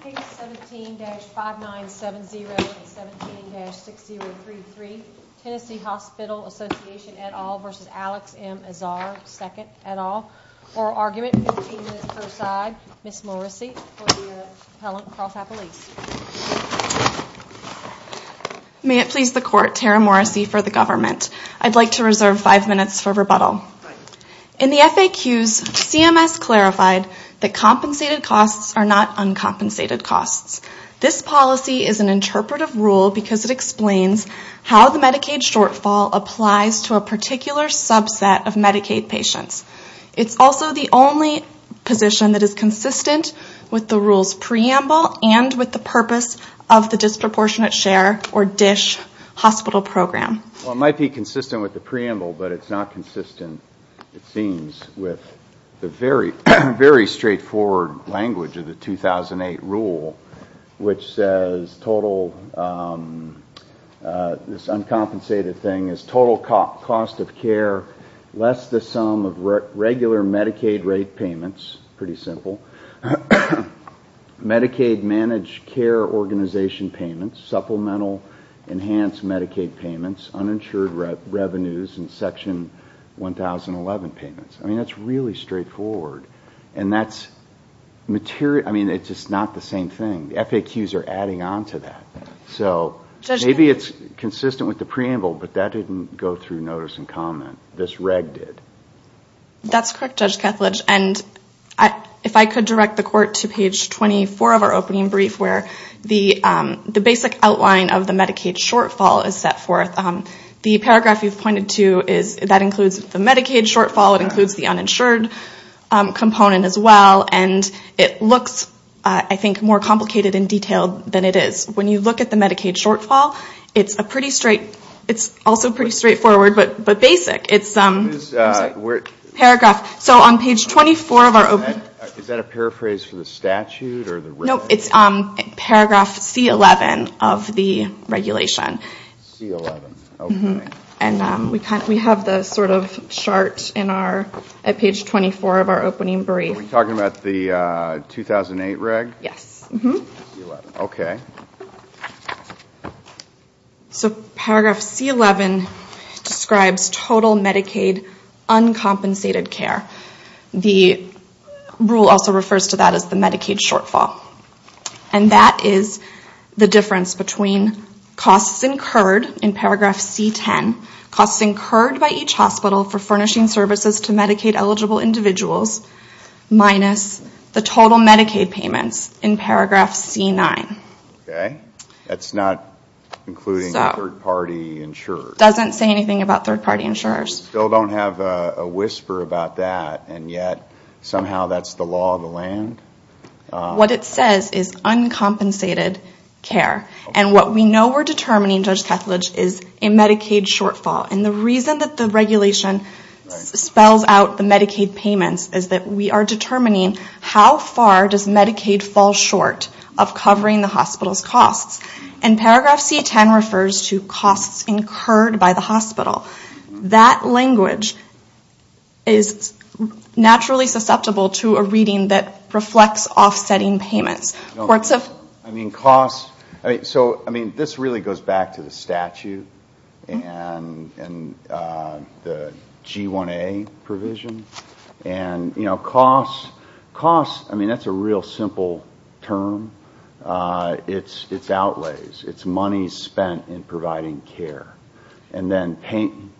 Page 17-5970 and 17-6033 Tennessee Hospital Association et al. v. Alex M Azar II et al. Oral argument, 15 minutes per side. Ms. Morrissey for the appellant, Carlsbad Police. May it please the court, Tara Morrissey for the government. I'd like to reserve 5 minutes for rebuttal. In the FAQs, CMS clarified that compensated costs are not uncompensated costs. This policy is an interpretive rule because it explains how the Medicaid shortfall applies to a particular subset of Medicaid patients. It's also the only position that is consistent with the rule's preamble and with the purpose of the Disproportionate Share, or DSH, hospital program. Well, it might be consistent with the preamble, but it's not consistent, it seems, with the very straightforward language of the 2008 rule, which says this uncompensated thing is total cost of care less the sum of regular Medicaid rate payments, pretty simple, Medicaid managed care organization payments, supplemental enhanced Medicaid payments, uninsured revenues and Section 1011 payments. I mean, that's really straightforward. And that's material, I mean, it's just not the same thing. The FAQs are adding on to that. So maybe it's consistent with the preamble, but that didn't go through notice and comment. This reg did. That's correct, Judge Kethledge. And if I could direct the Court to page 24 of our opening brief, where the basic outline of the Medicaid shortfall is set forth. The paragraph you've pointed to, that includes the Medicaid shortfall, it includes the uninsured component as well, and it looks, I think, more complicated and detailed than it is. When you look at the Medicaid shortfall, it's also pretty straightforward, but basic. Paragraph. So on page 24 of our opening. Is that a paraphrase for the statute or the reg? No, it's paragraph C11 of the regulation. C11, okay. And we have the sort of chart at page 24 of our opening brief. Are we talking about the 2008 reg? Yes. Okay. So paragraph C11 describes total Medicaid uncompensated care. The rule also refers to that as the Medicaid shortfall. And that is the difference between costs incurred in paragraph C10, costs incurred by each hospital for furnishing services to Medicaid-eligible individuals, minus the total Medicaid payments in paragraph C9. Okay. That's not including third-party insurers. It doesn't say anything about third-party insurers. We still don't have a whisper about that, and yet somehow that's the law of the land. What it says is uncompensated care. And what we know we're determining, Judge Kethledge, is a Medicaid shortfall. And the reason that the regulation spells out the Medicaid payments is that we are determining how far does Medicaid fall short of covering the hospital's costs. And paragraph C10 refers to costs incurred by the hospital. That language is naturally susceptible to a reading that reflects offsetting payments. I mean, costs. So, I mean, this really goes back to the statute and the G1A provision. And, you know, costs, I mean, that's a real simple term. It's outlays. It's money spent in providing care. And then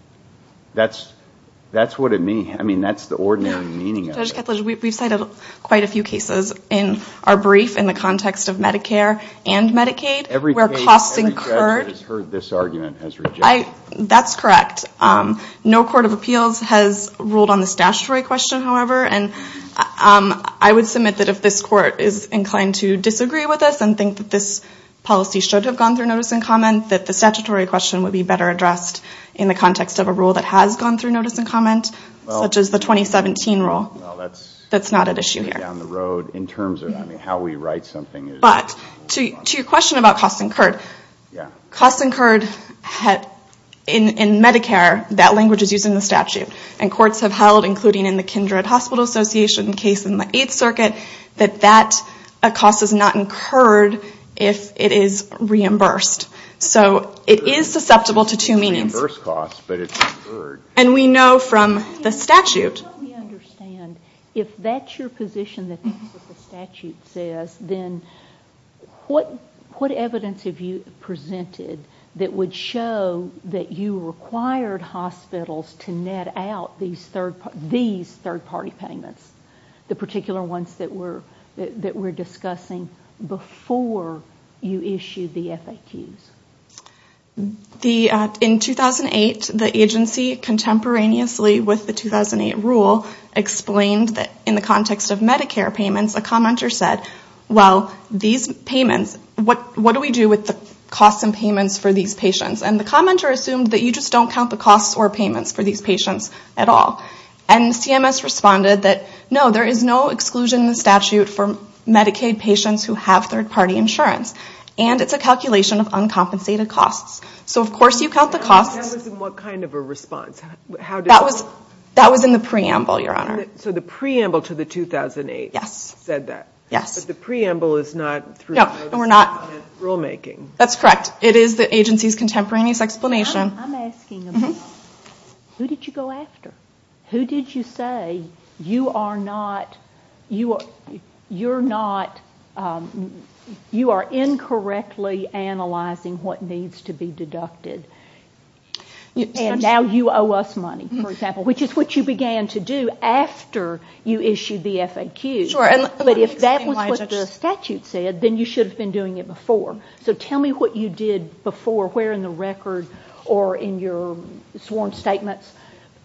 that's what it means. I mean, that's the ordinary meaning of it. Judge Kethledge, we've cited quite a few cases in our brief in the context of Medicare and Medicaid where costs incurred. Every judge that has heard this argument has rejected it. That's correct. No court of appeals has ruled on this statutory question, however. And I would submit that if this court is inclined to disagree with us and think that this policy should have gone through notice and comment, that the statutory question would be better addressed in the context of a rule that has gone through notice and comment, such as the 2017 rule. Well, that's down the road in terms of how we write something. But to your question about costs incurred, costs incurred in Medicare, that language is used in the statute. And courts have held, including in the Kindred Hospital Association case in the Eighth Circuit, that that cost is not incurred if it is reimbursed. So it is susceptible to two meanings. Reimbursed costs, but it's incurred. And we know from the statute. Let me understand. If that's your position that the statute says, then what evidence have you presented that would show that you required hospitals to net out these third-party payments, the particular ones that we're discussing, before you issued the FAQs? In 2008, the agency, contemporaneously with the 2008 rule, explained that in the context of Medicare payments, a commenter said, well, these payments, what do we do with the costs and payments for these patients? And the commenter assumed that you just don't count the costs or payments for these patients at all. And CMS responded that, no, there is no exclusion in the statute for Medicaid patients who have third-party insurance. And it's a calculation of uncompensated costs. So, of course, you count the costs. That was in what kind of a response? That was in the preamble, Your Honor. So the preamble to the 2008 said that. Yes. But the preamble is not through the rulemaking. That's correct. It is the agency's contemporaneous explanation. I'm asking about who did you go after? Who did you say, you are not, you're not, you are incorrectly analyzing what needs to be deducted? And now you owe us money, for example, which is what you began to do after you issued the FAQ. Sure. But if that was what the statute said, then you should have been doing it before. So tell me what you did before, where in the record or in your sworn statements,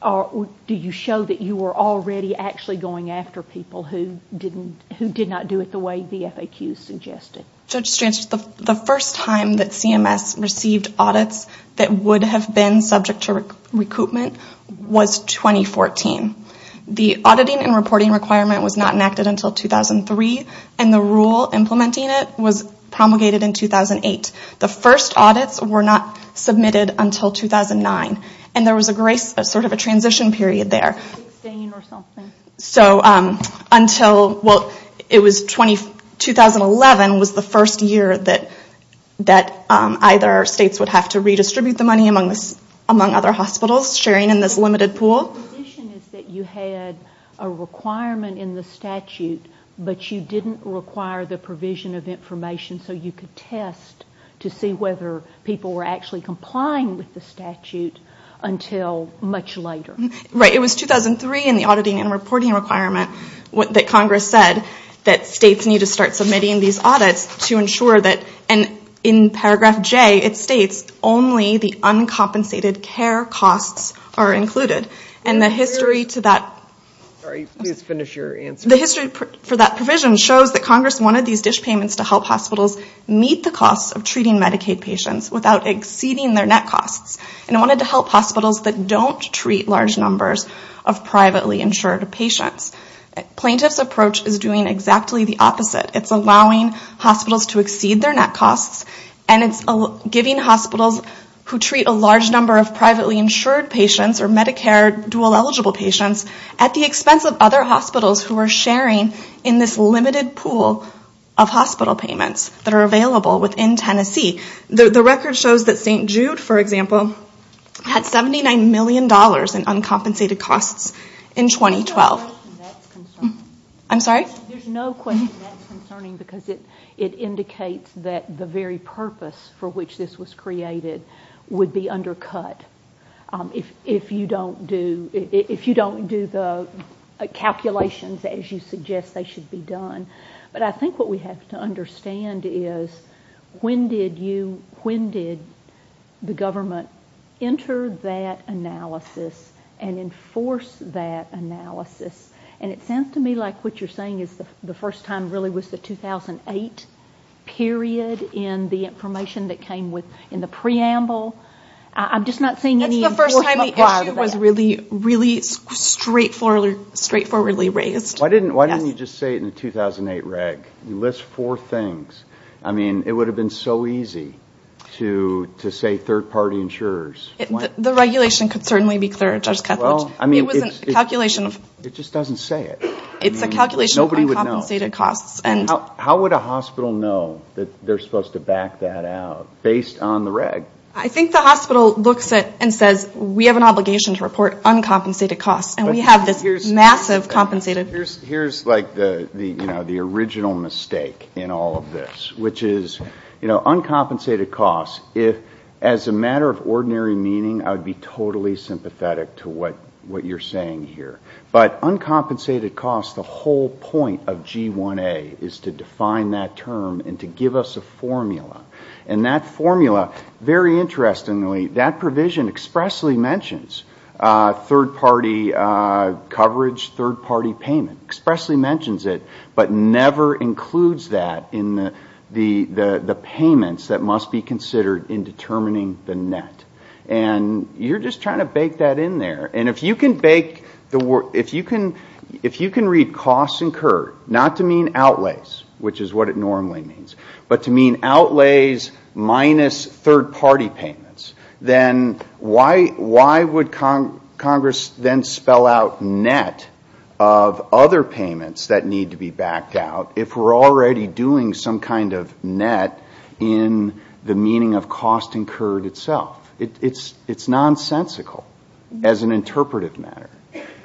do you show that you were already actually going after people who did not do it the way the FAQ suggested? Judge Strantz, the first time that CMS received audits that would have been subject to recoupment was 2014. The auditing and reporting requirement was not enacted until 2003. And the rule implementing it was promulgated in 2008. The first audits were not submitted until 2009. And there was a grace, sort of a transition period there. So until, well, it was 2011 was the first year that either states would have to redistribute the money among other hospitals, sharing in this limited pool. So the condition is that you had a requirement in the statute, but you didn't require the provision of information so you could test to see whether people were actually complying with the statute until much later. Right. It was 2003 in the auditing and reporting requirement that Congress said that states need to start submitting these audits to ensure that, and in paragraph J it states, only the uncompensated care costs are included. And the history to that. Sorry, please finish your answer. The history for that provision shows that Congress wanted these dish payments to help hospitals meet the costs of treating Medicaid patients without exceeding their net costs. And it wanted to help hospitals that don't treat large numbers of privately insured patients. Plaintiff's approach is doing exactly the opposite. It's allowing hospitals to exceed their net costs, and it's giving hospitals who treat a large number of privately insured patients or Medicare dual eligible patients at the expense of other hospitals who are sharing in this limited pool of hospital payments that are available within Tennessee. The record shows that St. Jude, for example, had $79 million in uncompensated costs in 2012. I'm sorry? There's no question that's concerning because it indicates that the very purpose for which this was created would be undercut if you don't do the calculations as you suggest they should be done. But I think what we have to understand is when did you, when did the government enter that analysis and enforce that analysis? And it sounds to me like what you're saying is the first time really was the 2008 period in the information that came with, in the preamble. I'm just not seeing any enforcement prior to that. That's the first time the issue was really, really straightforwardly raised. Why didn't you just say it in the 2008 reg? You list four things. I mean, it would have been so easy to say third-party insurers. The regulation could certainly be third, Judge Ketledge. It was a calculation. It just doesn't say it. It's a calculation of uncompensated costs. How would a hospital know that they're supposed to back that out based on the reg? I think the hospital looks at it and says we have an obligation to report uncompensated costs, and we have this massive compensated. Here's like the original mistake in all of this, which is uncompensated costs, if, as a matter of ordinary meaning, I would be totally sympathetic to what you're saying here. But uncompensated costs, the whole point of G1A is to define that term and to give us a formula. And that formula, very interestingly, that provision expressly mentions third-party coverage, third-party payment, but never includes that in the payments that must be considered in determining the net. And you're just trying to bake that in there. And if you can read costs incurred, not to mean outlays, which is what it normally means, but to mean outlays minus third-party payments, then why would Congress then spell out net of other payments that need to be backed out if we're already doing some kind of net in the meaning of cost incurred itself? It's nonsensical as an interpretive matter.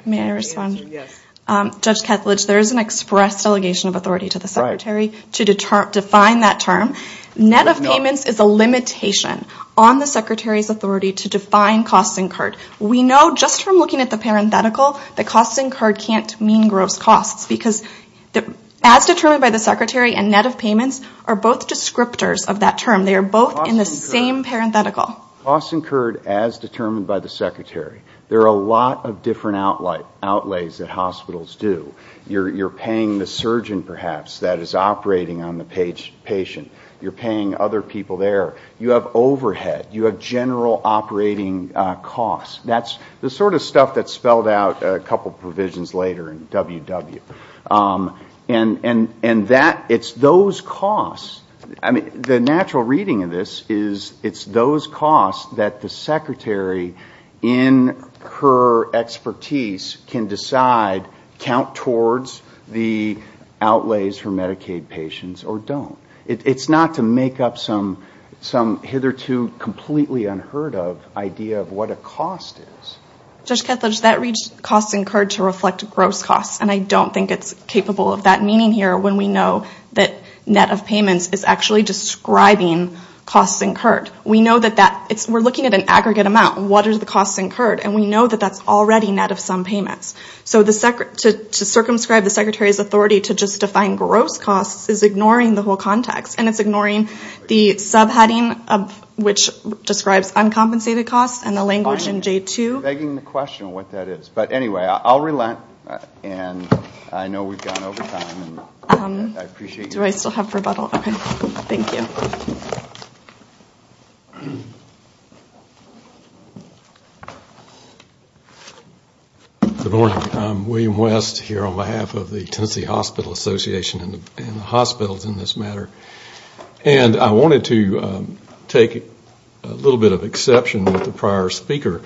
May I respond? Yes. Judge Kethledge, there is an express delegation of authority to the Secretary to define that term. Net of payments is a limitation on the Secretary's authority to define costs incurred. We know just from looking at the parenthetical that costs incurred can't mean gross costs because as determined by the Secretary, a net of payments are both descriptors of that term. They are both in the same parenthetical. Costs incurred as determined by the Secretary. There are a lot of different outlays that hospitals do. You're paying the surgeon, perhaps, that is operating on the patient. You're paying other people there. You have overhead. You have general operating costs. That's the sort of stuff that's spelled out a couple provisions later in WW. And it's those costs. I mean, the natural reading of this is it's those costs that the Secretary, in her expertise, can decide count towards the outlays for Medicaid patients or don't. It's not to make up some hitherto completely unheard of idea of what a cost is. Judge Kethledge, that reads costs incurred to reflect gross costs, and I don't think it's capable of that meaning here when we know that net of payments is actually describing costs incurred. We know that that we're looking at an aggregate amount. What are the costs incurred? And we know that that's already net of some payments. So to circumscribe the Secretary's authority to just define gross costs is ignoring the whole context, and it's ignoring the subheading, which describes uncompensated costs, and the language in J2. Begging the question what that is. But anyway, I'll relent, and I know we've gone over time. Do I still have rebuttal? Okay. Thank you. Good morning. I'm William West here on behalf of the Tennessee Hospital Association and the hospitals in this matter. And I wanted to take a little bit of exception with the prior speaker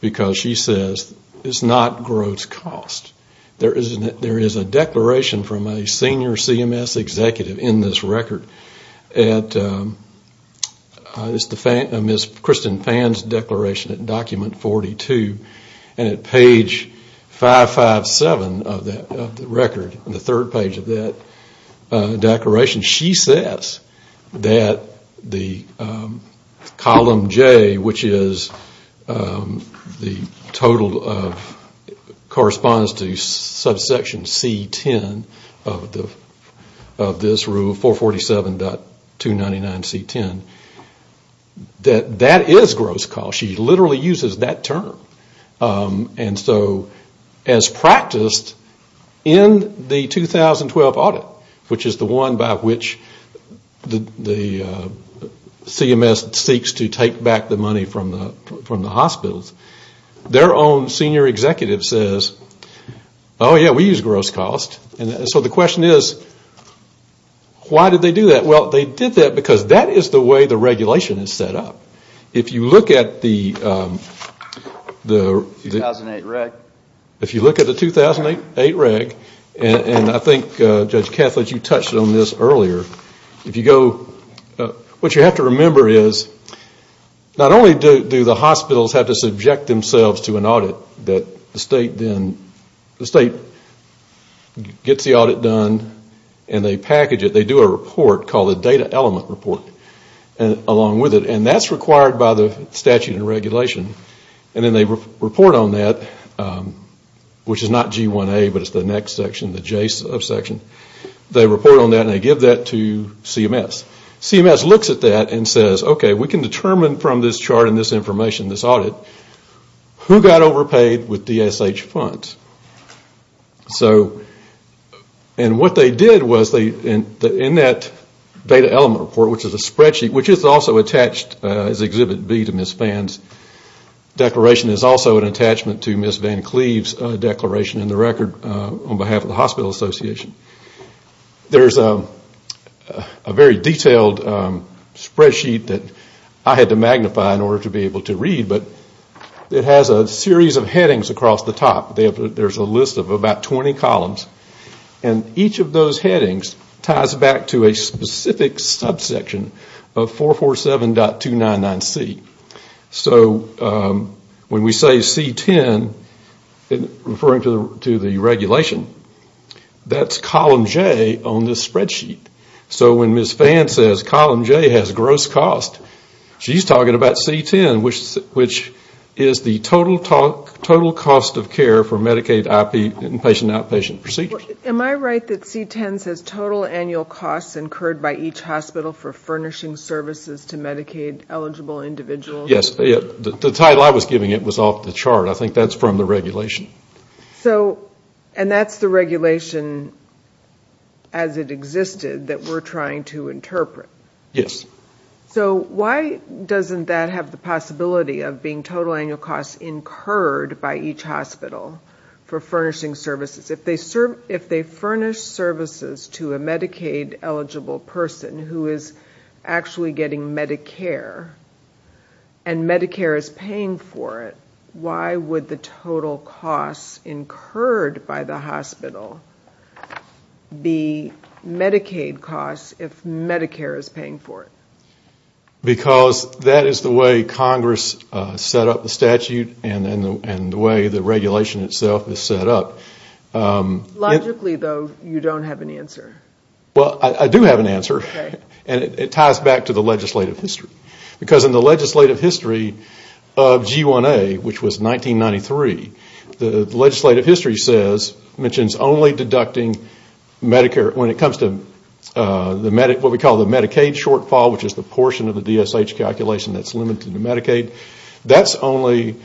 because she says it's not gross costs. There is a declaration from a senior CMS executive in this record. It's the Ms. Kristen Phan's declaration at Document 42, and at page 557 of the record, the third page of that declaration, she says that the column J, which is the total of correspondence to subsection C10 of this rule, 447.299C10, that that is gross costs. She literally uses that term. And so as practiced in the 2012 audit, which is the one by which the CMS seeks to take back the money from the hospitals, their own senior executive says, oh, yeah, we use gross costs. So the question is, why did they do that? Well, they did that because that is the way the regulation is set up. If you look at the 2008 reg, and I think Judge Kethledge, you touched on this earlier, what you have to remember is not only do the hospitals have to subject themselves to an audit that the state gets the audit done and they package it, they do a report called a data element report along with it. And that's required by the statute and regulation. And then they report on that, which is not G1A, but it's the next section, the J subsection. They report on that and they give that to CMS. CMS looks at that and says, okay, we can determine from this chart and this information, this audit, who got overpaid with DSH funds. And what they did was in that data element report, which is a spreadsheet, which is also attached as Exhibit B to Ms. Phan's declaration, is also an attachment to Ms. Van Cleave's declaration in the record on behalf of the Hospital Association. There's a very detailed spreadsheet that I had to magnify in order to be able to read, but it has a series of headings across the top. There's a list of about 20 columns. And each of those headings ties back to a specific subsection of 447.299C. So when we say C10, referring to the regulation, that's column J on this spreadsheet. So when Ms. Phan says column J has gross cost, she's talking about C10, which is the total cost of care for Medicaid inpatient outpatient care. Am I right that C10 says total annual costs incurred by each hospital for furnishing services to Medicaid eligible individuals? Yes. The title I was giving it was off the chart. I think that's from the regulation. And that's the regulation as it existed that we're trying to interpret? Yes. So why doesn't that have the possibility of being total annual costs incurred by each hospital for furnishing services? If they furnish services to a Medicaid eligible person who is actually getting Medicare and Medicare is paying for it, why would the total costs incurred by the hospital be Medicaid costs if Medicare is paying for it? Because that is the way Congress set up the statute and the way the regulation itself is set up. Logically, though, you don't have an answer. Well, I do have an answer. And it ties back to the legislative history. Because in the legislative history of G1A, which was 1993, the legislative history says, mentions only deducting Medicare, when it comes to what we call the portion of the DSH calculation that's limited to Medicaid. That's only,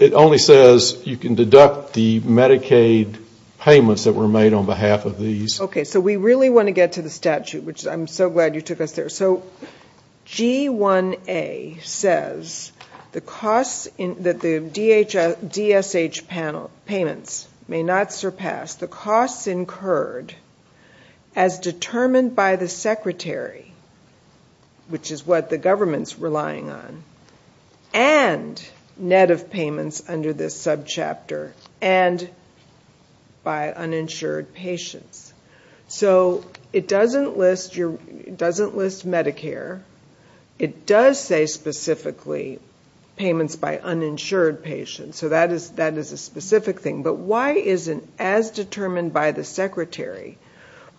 it only says you can deduct the Medicaid payments that were made on behalf of these. Okay. So we really want to get to the statute, which I'm so glad you took us there. So G1A says that the DSH payments may not surpass the costs incurred as determined by the secretary, which is what the government's relying on, and net of payments under this subchapter, and by uninsured patients. So it doesn't list your, it doesn't list Medicare. It does say specifically payments by uninsured patients. So that is a specific thing. But why isn't, as determined by the secretary,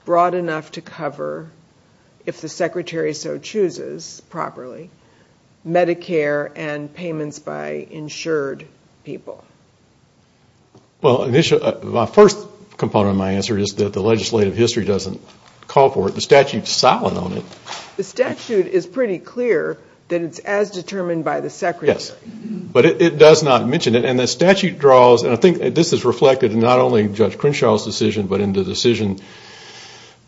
broad enough to cover, if the secretary so chooses, properly, Medicare and payments by insured people? Well, my first component of my answer is that the legislative history doesn't call for it. The statute is silent on it. The statute is pretty clear that it's as determined by the secretary. Yes. But it does not mention it. And the statute draws, and I think this is reflected in not only Judge Crenshaw's decision, but in the decision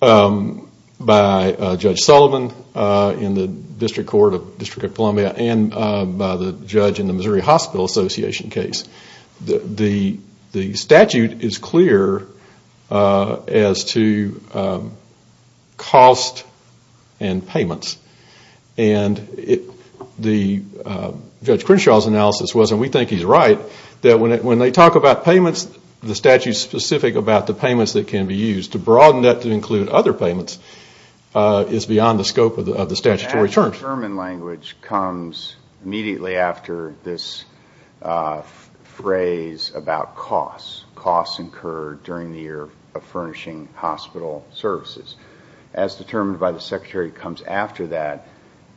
by Judge Sullivan in the District Court of the District of Columbia, and by the judge in the Missouri Hospital Association case. The statute is clear as to cost and payments. And the Judge Crenshaw's analysis was, and we think he's right, that the statute is specific about the payments that can be used. To broaden that to include other payments is beyond the scope of the statutory terms. The as determined language comes immediately after this phrase about costs. Costs incurred during the year of furnishing hospital services. As determined by the secretary comes after that.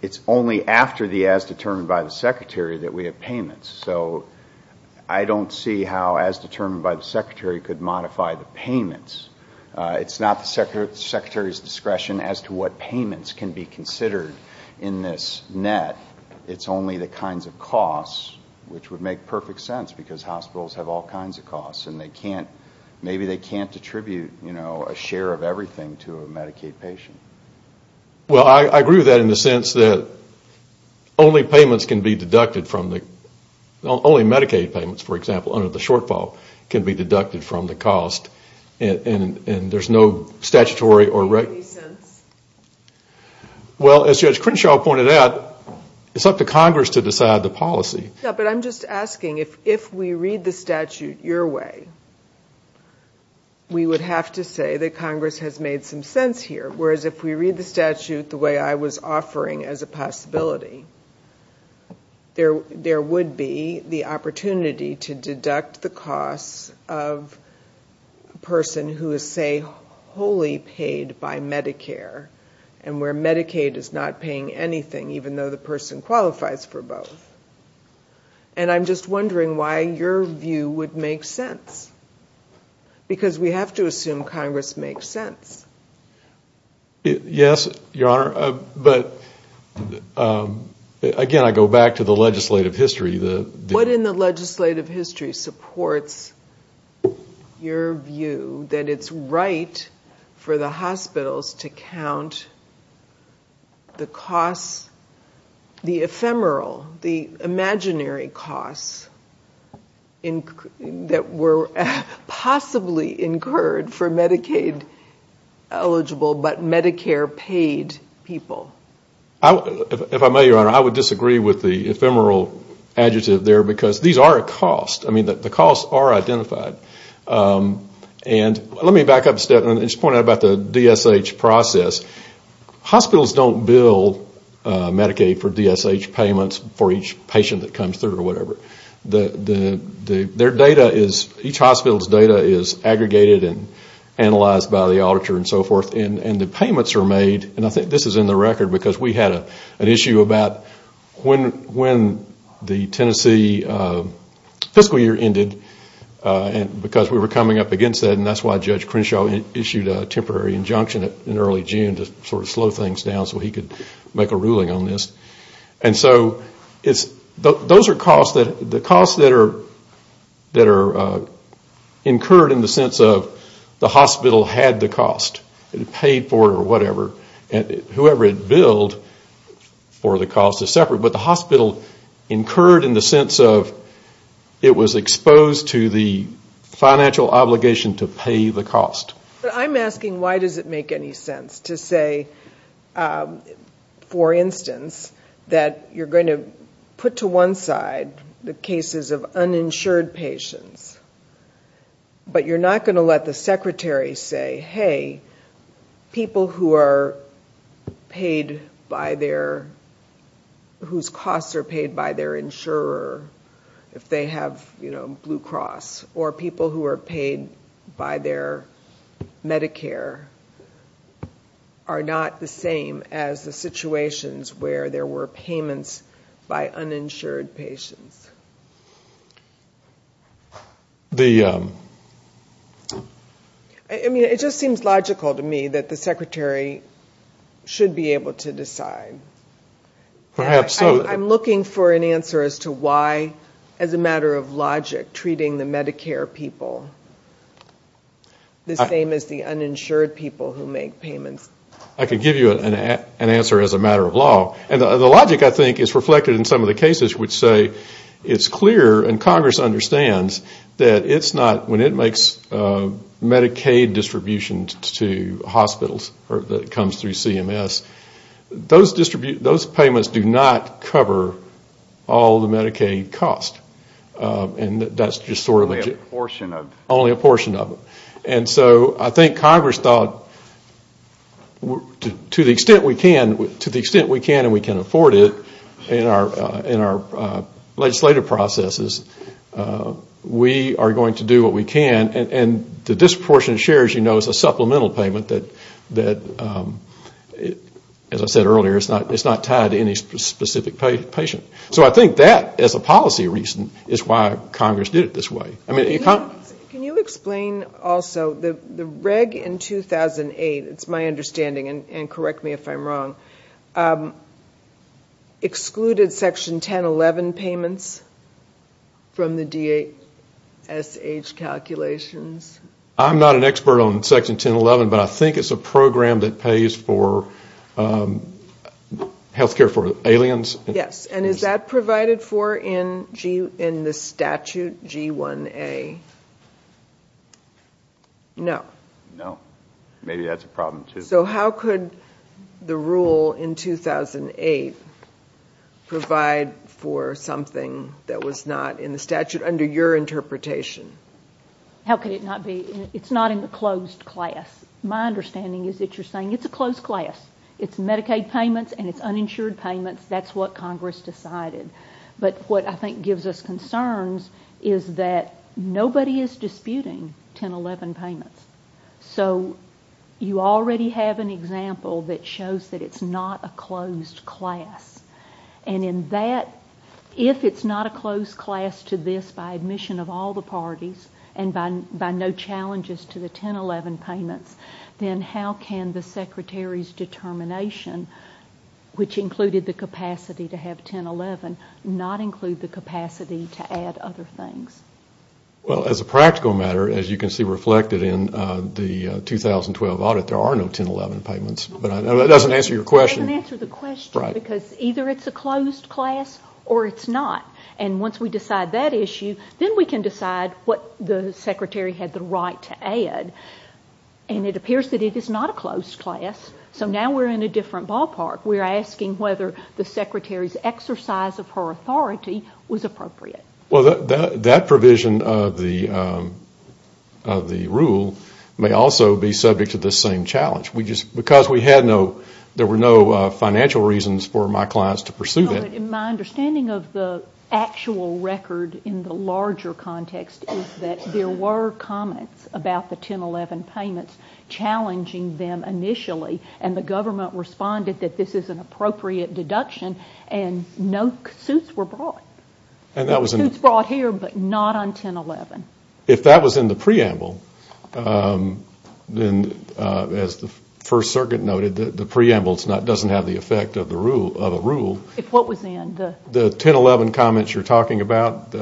It's only after the as determined by the secretary that we have payments. So I don't see how as determined by the secretary could modify the payments. It's not the secretary's discretion as to what payments can be considered in this net. It's only the kinds of costs, which would make perfect sense, because hospitals have all kinds of costs. Maybe they can't attribute a share of everything to a Medicaid patient. Well, I agree with that in the sense that only payments can be deducted from the, only Medicaid payments, for example, under the shortfall can be deducted from the cost. And there's no statutory. Well, as Judge Crenshaw pointed out, it's up to Congress to decide the policy. But I'm just asking, if we read the statute your way, we would have to say that Congress has made some sense here. Whereas if we read the statute the way I was offering as a possibility, there would be the opportunity to deduct the costs of a person who is, say, wholly paid by Medicare, and where Medicaid is not paying anything even though the person qualifies for both. And I'm just wondering why your view would make sense. Because we have to assume Congress makes sense. Yes, Your Honor. But, again, I go back to the legislative history. What in the legislative history supports your view that it's right for the hospitals to count the costs, the ephemeral, the imaginary costs that were possibly incurred for Medicaid-eligible but Medicare-paid patients? If I may, Your Honor, I would disagree with the ephemeral adjective there because these are a cost. I mean, the costs are identified. And let me back up a step and just point out about the DSH process. Hospitals don't bill Medicaid for DSH payments for each patient that comes through or whatever. Their data is, each hospital's data is aggregated and analyzed by the And I don't want to ruin the record because we had an issue about when the Tennessee fiscal year ended because we were coming up against that. And that's why Judge Crenshaw issued a temporary injunction in early June to sort of slow things down so he could make a ruling on this. And so those are costs that are incurred in the sense of the hospital had the cost and paid for it or whatever. Whoever had billed for the cost is separate. But the hospital incurred in the sense of it was exposed to the financial obligation to pay the cost. But I'm asking why does it make any sense to say, for instance, that you're going to put to one side the cases of uninsured patients, but you're not going to let the secretary say, hey, people who are paid by their, whose costs are paid by their insurer, if they have Blue Cross, or people who are paid by their Medicare are not the same as the situations where there were payments by uninsured patients? I mean, it just seems logical to me that the secretary should be able to decide. I'm looking for an answer as to why, as a matter of logic, treating the Medicare people the same as the uninsured people who make payments. I could give you an answer as a matter of law. And the logic, I think, is reflected in some of the cases which say, you know, it's clear, and Congress understands, that it's not, when it makes Medicaid distributions to hospitals that comes through CMS, those payments do not cover all the Medicaid costs. And that's just sort of a... Only a portion of it. Only a portion of it. And so I think Congress thought, to the extent we can, and we can afford it, we are going to do what we can. And this portion of shares, you know, is a supplemental payment that, as I said earlier, it's not tied to any specific patient. So I think that, as a policy reason, is why Congress did it this way. Can you explain also, the reg in 2008, it's my understanding, and correct me if I'm wrong, excluded Section 1011 payments? From the DSH calculations? I'm not an expert on Section 1011, but I think it's a program that pays for health care for aliens. Yes. And is that provided for in the statute G1A? No. No. Maybe that's a problem, too. So how could the rule in 2008 provide for something that was not in the statute, under your interpretation? How could it not be? It's not in the closed class. My understanding is that you're saying it's a closed class. It's Medicaid payments and it's uninsured payments. That's what Congress decided. But what I think gives us concerns is that nobody is disputing 1011 payments. We have an example that shows that it's not a closed class. And in that, if it's not a closed class to this by admission of all the parties, and by no challenges to the 1011 payments, then how can the Secretary's determination, which included the capacity to have 1011, not include the capacity to add other things? Well, as a practical matter, as you can see reflected in the 2012 audit, there are no 1011 payments. That doesn't answer your question. It doesn't answer the question because either it's a closed class or it's not. And once we decide that issue, then we can decide what the Secretary had the right to add. And it appears that it is not a closed class, so now we're in a different ballpark. We're asking whether the Secretary's exercise of her authority was appropriate. Well, that provision of the rule may also be subject to the same challenge. Because we had no, there were no financial reasons for my clients to pursue that. My understanding of the actual record in the larger context is that there were comments about the 1011 payments challenging them initially, and the government responded that this is an appropriate deduction, and no suits were brought. Suits brought here, but not on 1011. If that was in the preamble, then as the First Circuit noted, the preamble doesn't have the effect of a rule. If what was in? The 1011 comments you're talking about.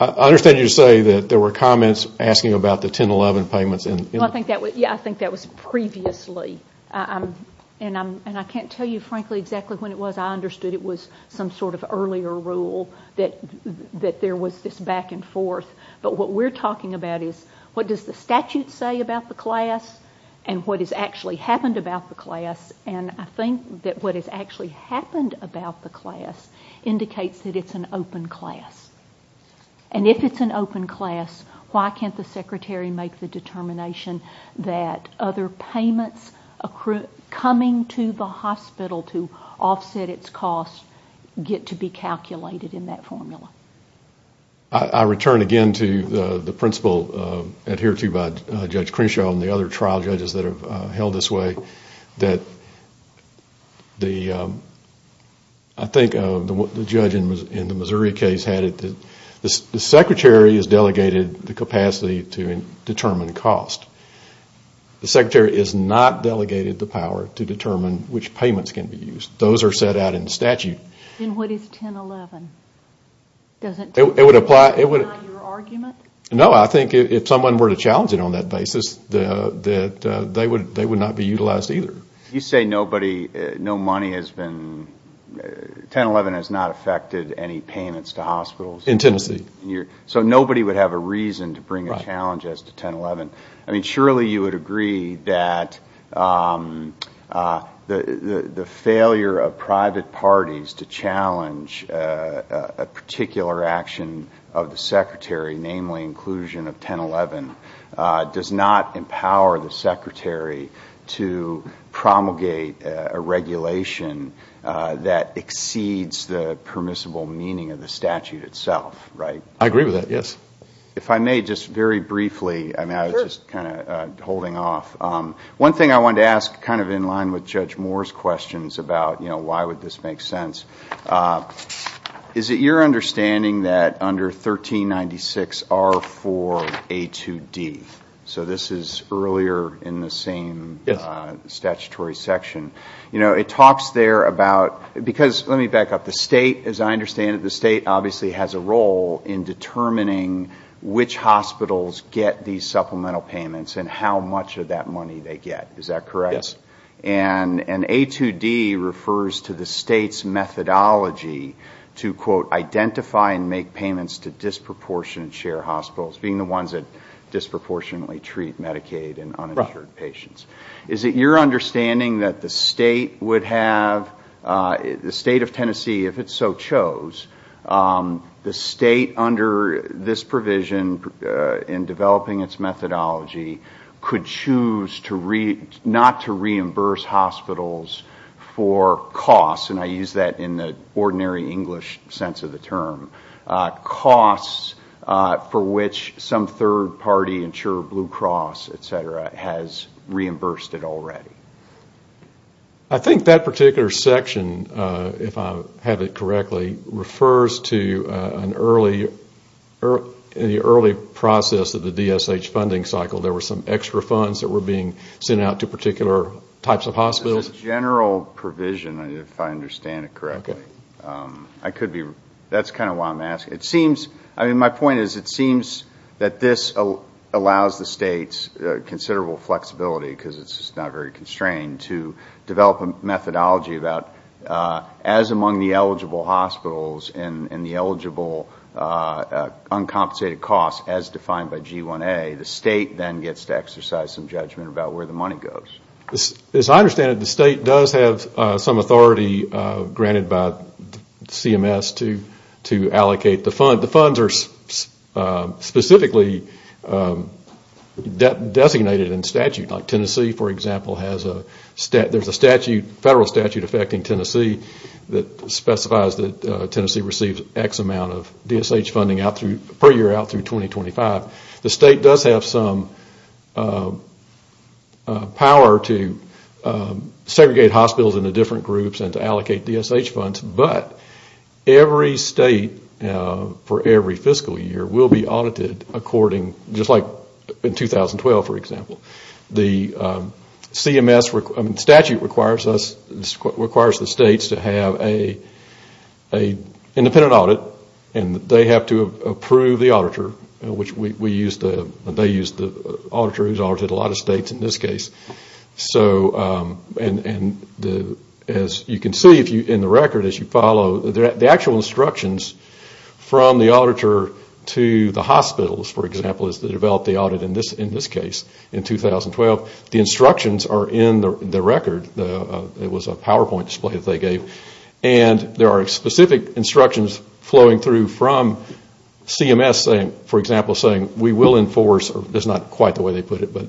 I understand you say that there were comments asking about the 1011 payments. Yeah, I think that was previously. And I can't tell you frankly exactly when it was. I understood it was some sort of earlier rule, that there was this back and forth. But what we're talking about is what does the statute say about the class and what has actually happened about the class. And I think that what has actually happened about the class indicates that it's an open class. And if it's an open class, why can't the Secretary make the determination that other payments coming to the hospital to offset its cost get to be calculated in that formula? I return again to the principle adhered to by Judge Crenshaw and the other trial judges that have held this way, that I think the judge in the Missouri case had it that the Secretary has delegated the capacity to determine which payments can be used. Those are set out in the statute. And what is 1011? It would apply. No, I think if someone were to challenge it on that basis, they would not be utilized either. You say nobody, no money has been, 1011 has not affected any payments to hospitals. In Tennessee. So nobody would have a reason to bring a challenge as to 1011. Surely you would agree that the failure of private parties to challenge a particular action of the Secretary, namely inclusion of 1011, does not empower the Secretary to promulgate a regulation that exceeds the scope of 1011? I agree with that, yes. If I may, just very briefly, I was just kind of holding off. One thing I wanted to ask, kind of in line with Judge Moore's questions about why would this make sense, is it your understanding that under 1396 R4A2D, so this is earlier in the same statutory section, it talks there about the role in determining which hospitals get these supplemental payments and how much of that money they get, is that correct? Yes. And A2D refers to the state's methodology to, quote, identify and make payments to disproportionate share hospitals, being the ones that disproportionately treat Medicaid and uninsured patients. Is it your understanding that the state would have, the state of this provision in developing its methodology, could choose not to reimburse hospitals for costs, and I use that in the ordinary English sense of the term, costs for which some third party, Blue Cross, et cetera, has reimbursed it already? I think that particular section, if I have it correctly, refers to an early, in the early process of the DSH funding cycle, there were some extra funds that were being sent out to particular types of hospitals? It's a general provision, if I understand it correctly. Okay. I could be, that's kind of why I'm asking. It seems, I mean, my point is, it seems that this allows the states considerable flexibility, because it's not very constrained, to develop a methodology about, as among the eligible hospitals and the eligible uncompensated costs, as defined by G1A, the state then gets to exercise some judgment about where the money goes. As I understand it, the state does have some authority granted by CMS to allocate the fund. The funds are specifically designated in statute. Like Tennessee, for example, has a, there's a statute, federal statute affecting Tennessee that specifies that Tennessee receives X amount of DSH funding out through, per year, out through 2025. The state does have some power to segregate hospitals into different groups and to allocate DSH funds, but every state, for every fiscal year, will be audited according, just like in 2012, for example. The CMS, the statute requires us, requires the states to have an independent audit, and they have to approve the auditor, which we use the, they use the auditor, who's audited a lot of states in this case. So, and the, as you can see, if you, in the record, as you follow, the actual instructions from the auditor to the hospitals, for example, is to develop the audit, in this case, in 2012. The instructions are in the record. It was a PowerPoint display that they gave. And there are specific instructions flowing through from CMS saying, for example, saying, we will enforce, or that's not quite the way they put it, but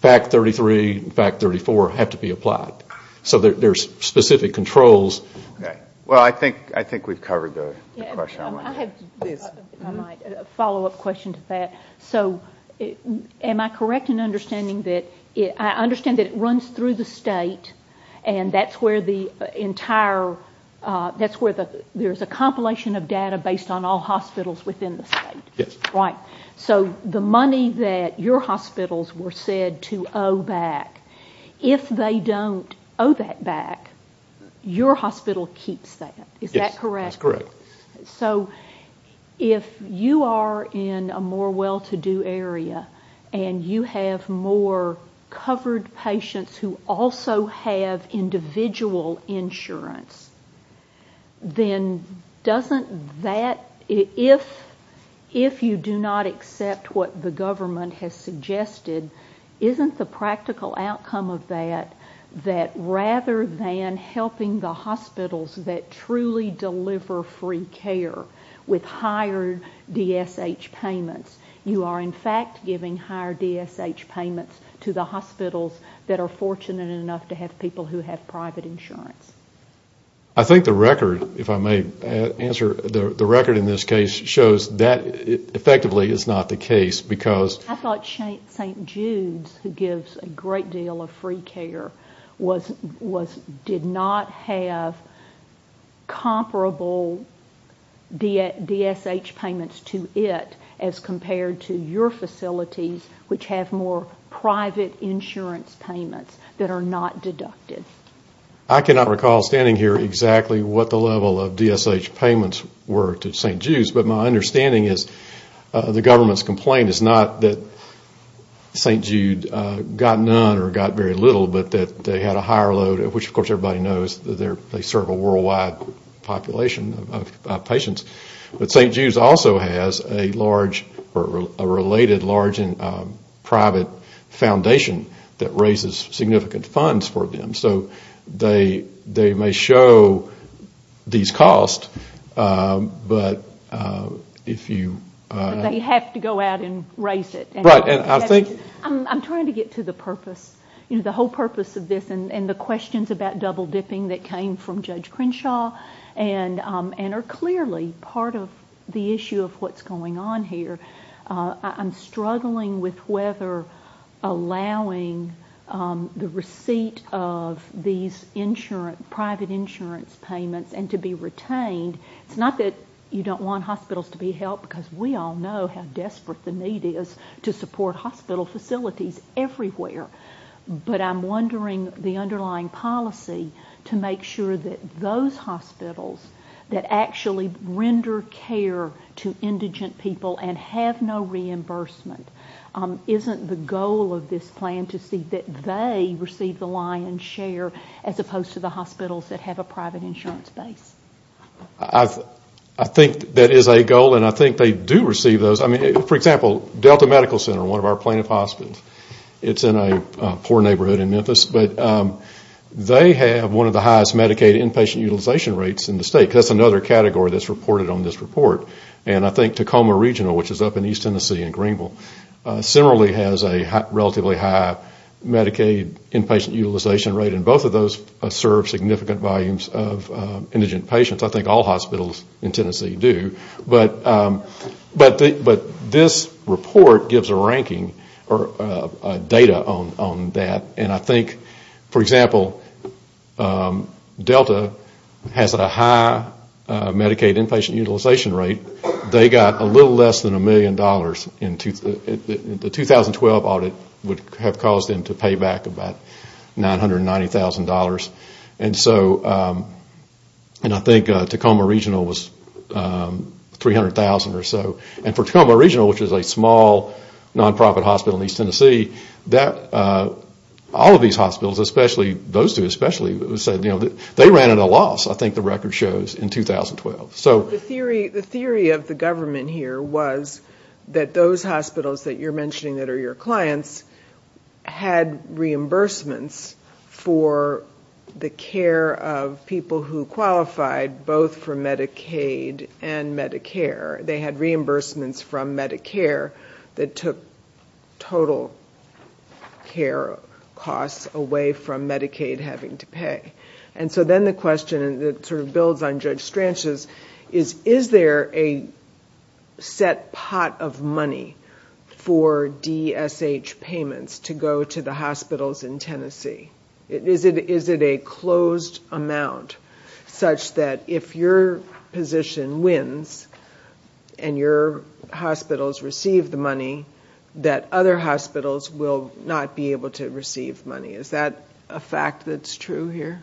FACT 33 and FACT 34 have to be applied. So there's specific controls. Well, I think, I think we've covered the question. I have, if I might, a follow-up question to that. So, am I correct in understanding that it, I understand that it runs through the entire, that's where the, there's a compilation of data based on all hospitals within the state? Yes. Right. So the money that your hospitals were said to owe back, if they don't owe that back, your hospital keeps that. Is that correct? Yes, that's correct. So if you are in a more well-to-do area, and you have more covered patients who also have individual insurance, then doesn't that, if you do not accept what the government has suggested, isn't the practical outcome of that, that rather than helping the hospitals that truly deliver free care with higher DSH payments, you are in fact giving higher DSH payments to the hospitals that are fortunate enough to have people who have private insurance? I think the record, if I may answer, the record in this case shows that effectively is not the case, because. I thought St. Jude's, who gives a great deal of free care, was, did not have comparable DSH payments to it, as compared to your facilities, which have more private insurance payments that are not deducted. I cannot recall standing here exactly what the level of DSH payments were to St. Jude's, but my understanding is the government's complaint is not that St. Jude got none or got very little, but that they had a higher load, which of course everybody knows they serve a worldwide population of patients. But St. Jude's also has a large, a related large private insurance payment private foundation that raises significant funds for them. So they may show these costs, but if you. They have to go out and raise it. Right, and I think. I'm trying to get to the purpose, the whole purpose of this and the questions about double dipping that came from Judge Crenshaw, and are clearly part of the issue of what's going on here. I'm struggling with whether allowing the receipt of these insurance, private insurance payments, and to be retained. It's not that you don't want hospitals to be helped, because we all know how desperate the need is to support hospital facilities everywhere. But I'm wondering the underlying policy to make sure that those hospitals that have no reimbursement, isn't the goal of this plan to see that they receive the lion's share as opposed to the hospitals that have a private insurance base? I think that is a goal, and I think they do receive those. For example, Delta Medical Center, one of our plaintiff hospitals, it's in a poor neighborhood in Memphis, but they have one of the highest Medicaid inpatient utilization rates in the state. That's another category that's reported on this report. And I think Tacoma Regional, which is up in East Tennessee and Greenville, similarly has a relatively high Medicaid inpatient utilization rate, and both of those serve significant volumes of indigent patients. I think all hospitals in Tennessee do. But this report gives a ranking, or data on that, and I think, for example, they got a little less than a million dollars. The 2012 audit would have caused them to pay back about $990,000. And I think Tacoma Regional was $300,000 or so. And for Tacoma Regional, which is a small nonprofit hospital in East Tennessee, all of these hospitals, those two especially, they ran at a loss, I think the record shows, in 2012. So the theory of the government here was that those hospitals that you're mentioning that are your clients had reimbursements for the care of people who qualified both for Medicaid and Medicare. They had reimbursements from Medicare that took total care costs away from Medicaid having to pay. And so then the question that sort of builds on Judge Stranch's is, is there a set pot of money for DSH payments to go to the hospitals in Tennessee? Is it a closed amount such that if your position wins and your hospitals receive the money, that other hospitals will not be able to receive money? Is that a fact that's true here?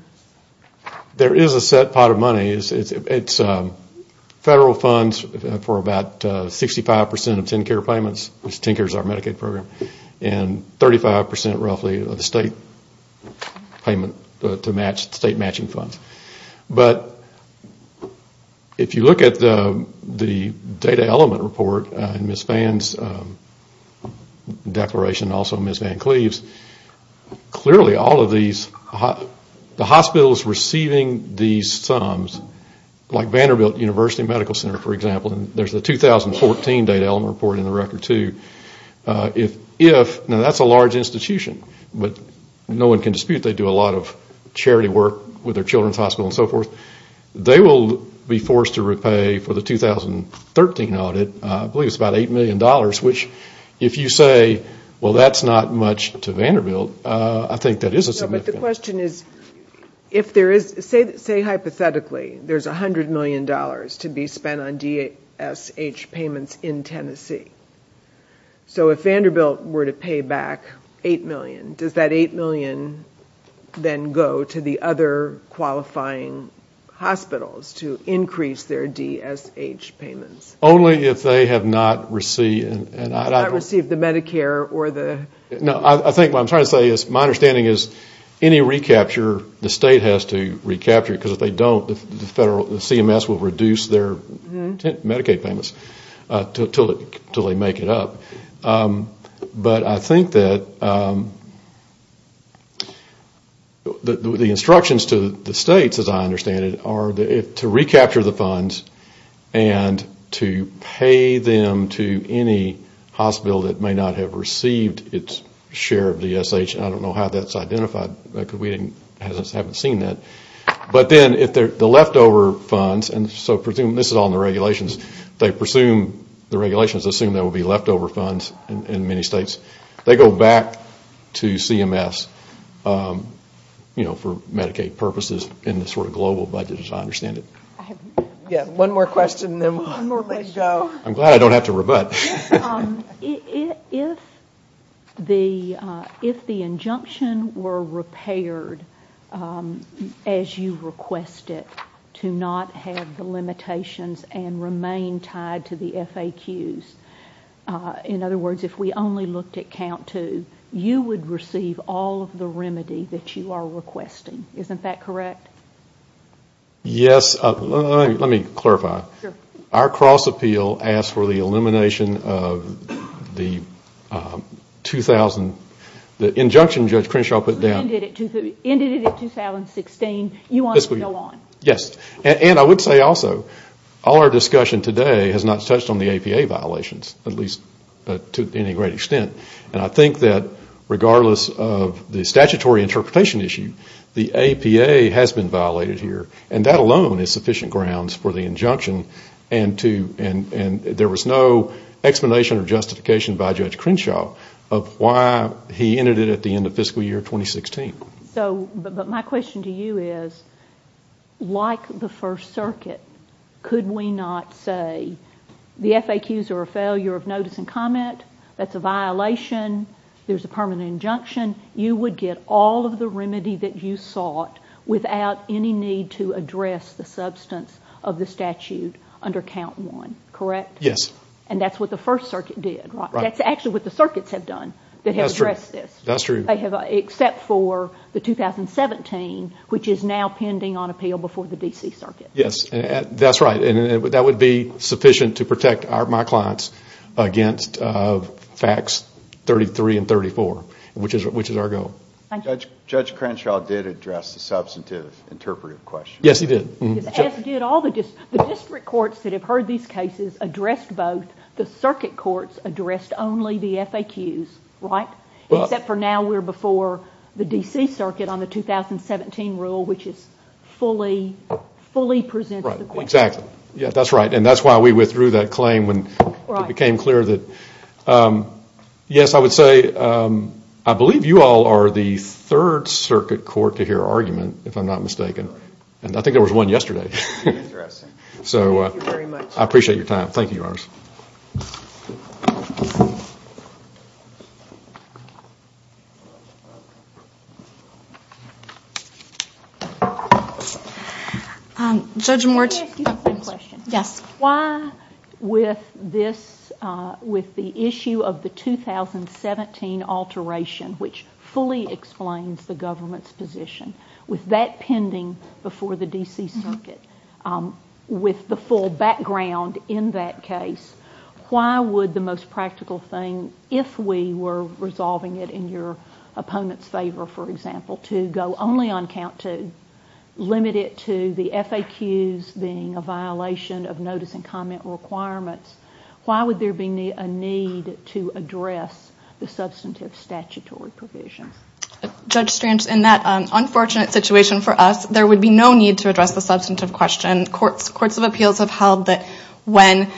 There is a set pot of money. It's federal funds for about 65 percent of TennCare payments, which TennCare is our Medicaid program, and 35 percent roughly of the state payment to match, state matching funds. But if you look at the data element report in Ms. Vann's declaration, also Ms. Vann Cleaves, clearly all of these, the hospitals receiving these sums, like Vanderbilt University Medical Center, for example, there's a 2014 data element report in the record too. Now that's a large institution, but no one can dispute they do a lot of charity work with their children's hospital and so forth. They will be forced to repay for the 2013 audit, I believe it's about $8 million, which if you say, well, that's not much to Vanderbilt, I think that is a significant amount. Say hypothetically there's $100 million to be spent on DSH payments in Tennessee. So if Vanderbilt were to pay back $8 million, does that $8 million then go to the other qualifying hospitals to increase their DSH payments? Only if they have not received the Medicare or the... No, I think what I'm trying to say is my understanding is any recapture, the state has to recapture it because if they don't, the CMS will reduce their Medicaid payments until they make it up. But I think that the instructions to the states, as I understand it, are to pay them to any hospital that may not have received its share of DSH. I don't know how that's identified because we haven't seen that. But then the leftover funds, and so this is all in the regulations, they presume the regulations assume there will be leftover funds in many states. They go back to CMS for Medicaid purposes in the sort of global budget, as I understand it. One more question and then we'll let it go. I'm glad I don't have to rebut. If the injunction were repaired as you requested to not have the limitations and remain tied to the FAQs, in other words, if we only looked at count two, you would receive all of the remedy that you are requesting. Isn't that correct? Yes. Let me clarify. Our cross appeal asks for the elimination of the 2000, the injunction Judge Crenshaw put down. Ended in 2016. You want to go on. Yes. And I would say also, all our discussion today has not touched on the APA violations, at least to any great extent. And I think that regardless of the statutory interpretation issue, the APA has been violated here. And that alone is sufficient grounds for the injunction. And there was no explanation or justification by Judge Crenshaw of why he ended it at the end of fiscal year 2016. But my question to you is, like the First Circuit, could we not say the FAQs are a failure of notice and comment? That's a violation. There's a permanent injunction. You would get all of the remedy that you sought without any need to address the substance of the statute under count one, correct? Yes. And that's what the First Circuit did. That's actually what the circuits have done that have addressed this. That's true. Except for the 2017, which is now pending on appeal before the D.C. Circuit. Yes. That's right. And that would be sufficient to protect my clients against facts 33 and 34, which is our goal. Judge Crenshaw did address the substantive interpretive question. Yes, he did. The district courts that have heard these cases addressed both. The circuit courts addressed only the FAQs, right? Except for now we're before the D.C. Circuit. That's right. And that's why we withdrew that claim when it became clear. Yes, I would say I believe you all are the third circuit court to hear argument, if I'm not mistaken. I think there was one yesterday. I appreciate your time. Thank you, Your Honors. Judge Moritz. Yes. Why with the issue of the 2017 alteration, which fully explains the government's position, with that pending before the D.C. Circuit, with the full background in that case, why would the most practical thing, if we were resolving it in your opponent's favor, for example, to go only on count two, limit it to the FAQs being a violation of notice and comment requirements, why would there be a need to address the substantive statutory provisions? Judge Strange, in that unfortunate situation for us, there would be no need to address the substantive question. Courts of Appeals have held that when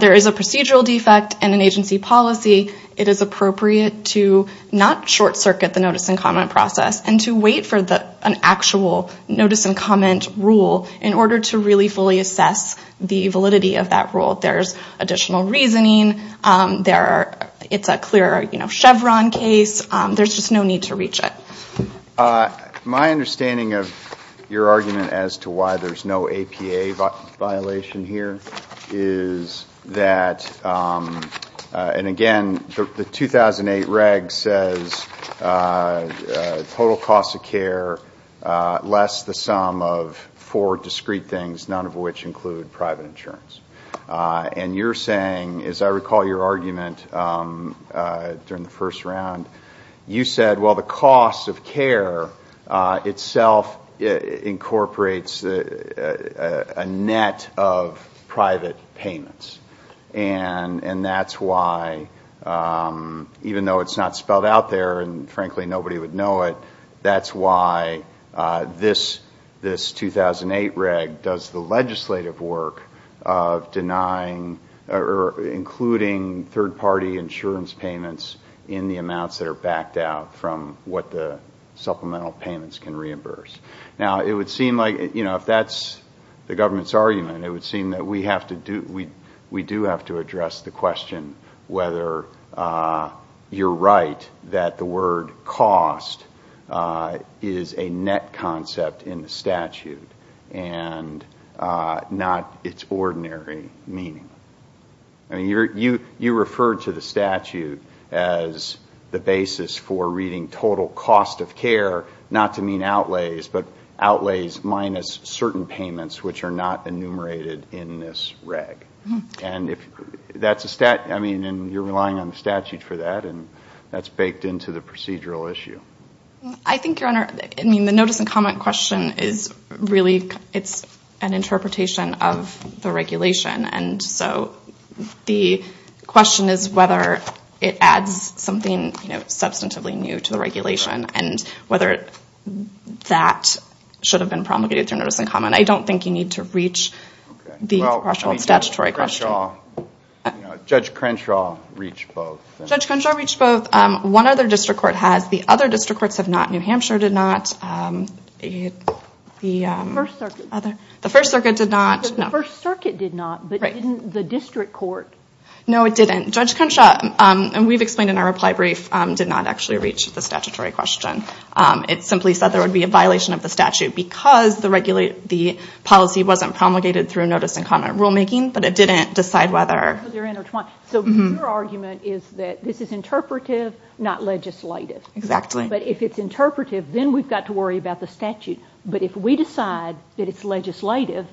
there is a procedural defect in an agency policy, it is appropriate to not short circuit the notice and comment process, and to wait for an actual notice and comment rule in order to really fully assess the validity of that rule. There's additional reasoning. It's a clear Chevron case. There's just no need to reach it. My understanding of your argument as to why there's no APA violation here is that, and again, the 2008 reg says, total cost of care less the sum of four discrete things, none of which include private insurance. And you're saying, as I recall your argument during the first round, you said, well, the cost of care itself incorporates a net of private payments. And that's why, even though it's not spelled out there and frankly nobody would know it, that's why this 2008 reg does the legislative work of denying or including third-party insurance payments in the amounts that are backed out from what the supplemental payments can reimburse. Now, it would seem like, if that's the government's argument, it would seem that we do have to address the question whether you're right that the word cost is a net concept in the statute and not its ordinary meaning. You referred to the statute as the basis for reading total cost of care, not to mean outlays, but outlays minus certain costs. I mean, you're relying on the statute for that, and that's baked into the procedural issue. I think, Your Honor, the notice and comment question is really an interpretation of the regulation. And so the question is whether it adds something substantively new to the regulation and whether that should have been promulgated through notice and comment. I don't think you need to reach the actual statutory question. Judge Crenshaw reached both. Judge Crenshaw reached both. One other district court has. The other district courts have not. New Hampshire did not. The First Circuit did not. The First Circuit did not, but didn't the district court? No, it didn't. Judge Crenshaw, and we've explained in our reply brief, did not actually reach the statutory question. It simply said there would be a violation of the statute because the policy wasn't promulgated through notice and comment rulemaking, but it didn't decide whether. So your argument is that this is interpretive, not legislative. Exactly. But if it's interpretive, then we've got to worry about the statute. But if we decide that it's legislative,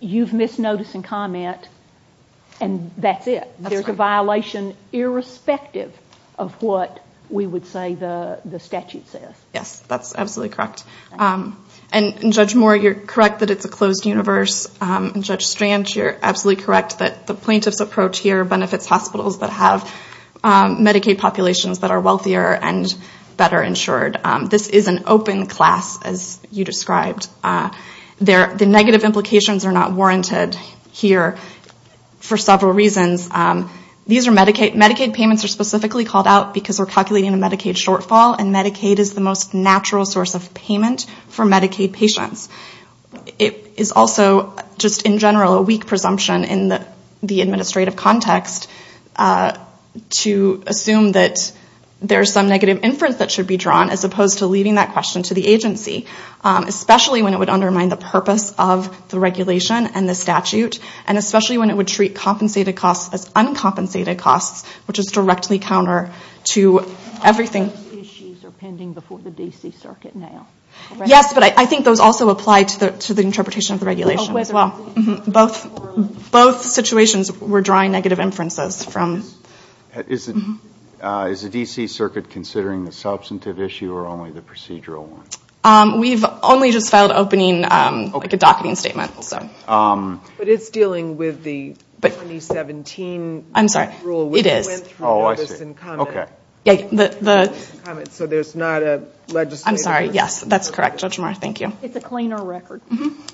you've missed notice and comment, and that's it. That's right. There's a violation irrespective of what we would say the statute says. Yes, that's absolutely correct. And Judge Moore, you're correct that it's a closed universe. And Judge Strand, you're absolutely correct that the plaintiff's approach here benefits hospitals that have Medicaid populations that are wealthier and better insured. This is an open class, as you described. The negative implications are not warranted here for several reasons. Medicaid payments are specifically called out because we're calculating a Medicaid shortfall, and Medicaid is the most natural source of payment for Medicaid patients. It is also just in general a weak presumption in the administrative context to assume that there's some negative inference that should be drawn, as opposed to leading that question to the agency. Especially when it would undermine the purpose of the regulation and the statute, and especially when it would treat compensated costs as uncompensated costs, which is directly counter to everything. Yes, but I think those also apply to the interpretation of the regulation as well. Both situations we're drawing negative inferences from. Is the D.C. Circuit considering the substantive issue or only the procedural one? We've only just filed a docketing statement. But it's dealing with the 2017 rule, which went through notice and comment. So there's not a legislative... I'm sorry, yes. That's correct, Judge Moore. Thank you. It's a cleaner record.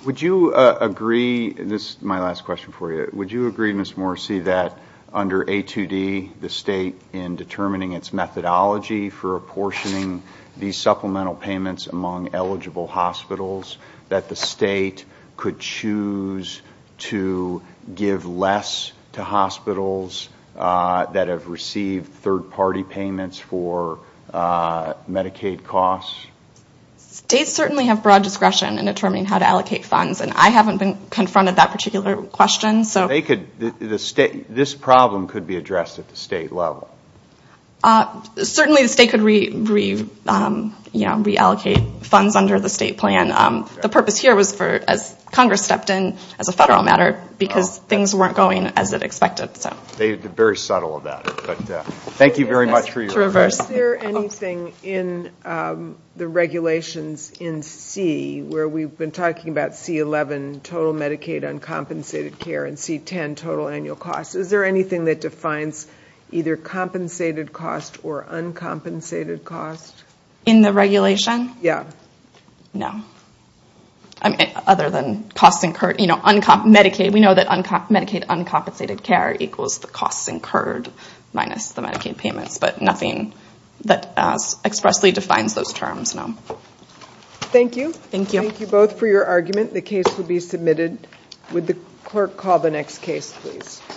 This is my last question for you. Would you agree, Ms. Moore, that under A2D, the state in determining its methodology for apportioning these supplemental payments among eligible hospitals, that the state could choose to give less to hospitals that have received third-party payments for Medicaid costs? States certainly have broad discretion in determining how to allocate funds, and I haven't been confronted with that particular question. This problem could be addressed at the state level? Certainly the state could reallocate funds under the state plan. The purpose here was for, as Congress stepped in as a federal matter, because things weren't going as it expected. Very subtle of that. Thank you very much for your response. Is there anything in the regulations in C where we've been talking about C11, total Medicaid uncompensated care, and C10, total annual costs? Is there anything that defines either compensated cost or uncompensated cost? In the regulation? No. We know that Medicaid uncompensated care equals the costs incurred minus the Medicaid payments, but nothing that expressly defines those terms, no. Thank you. Thank you both for your argument. The case will be submitted.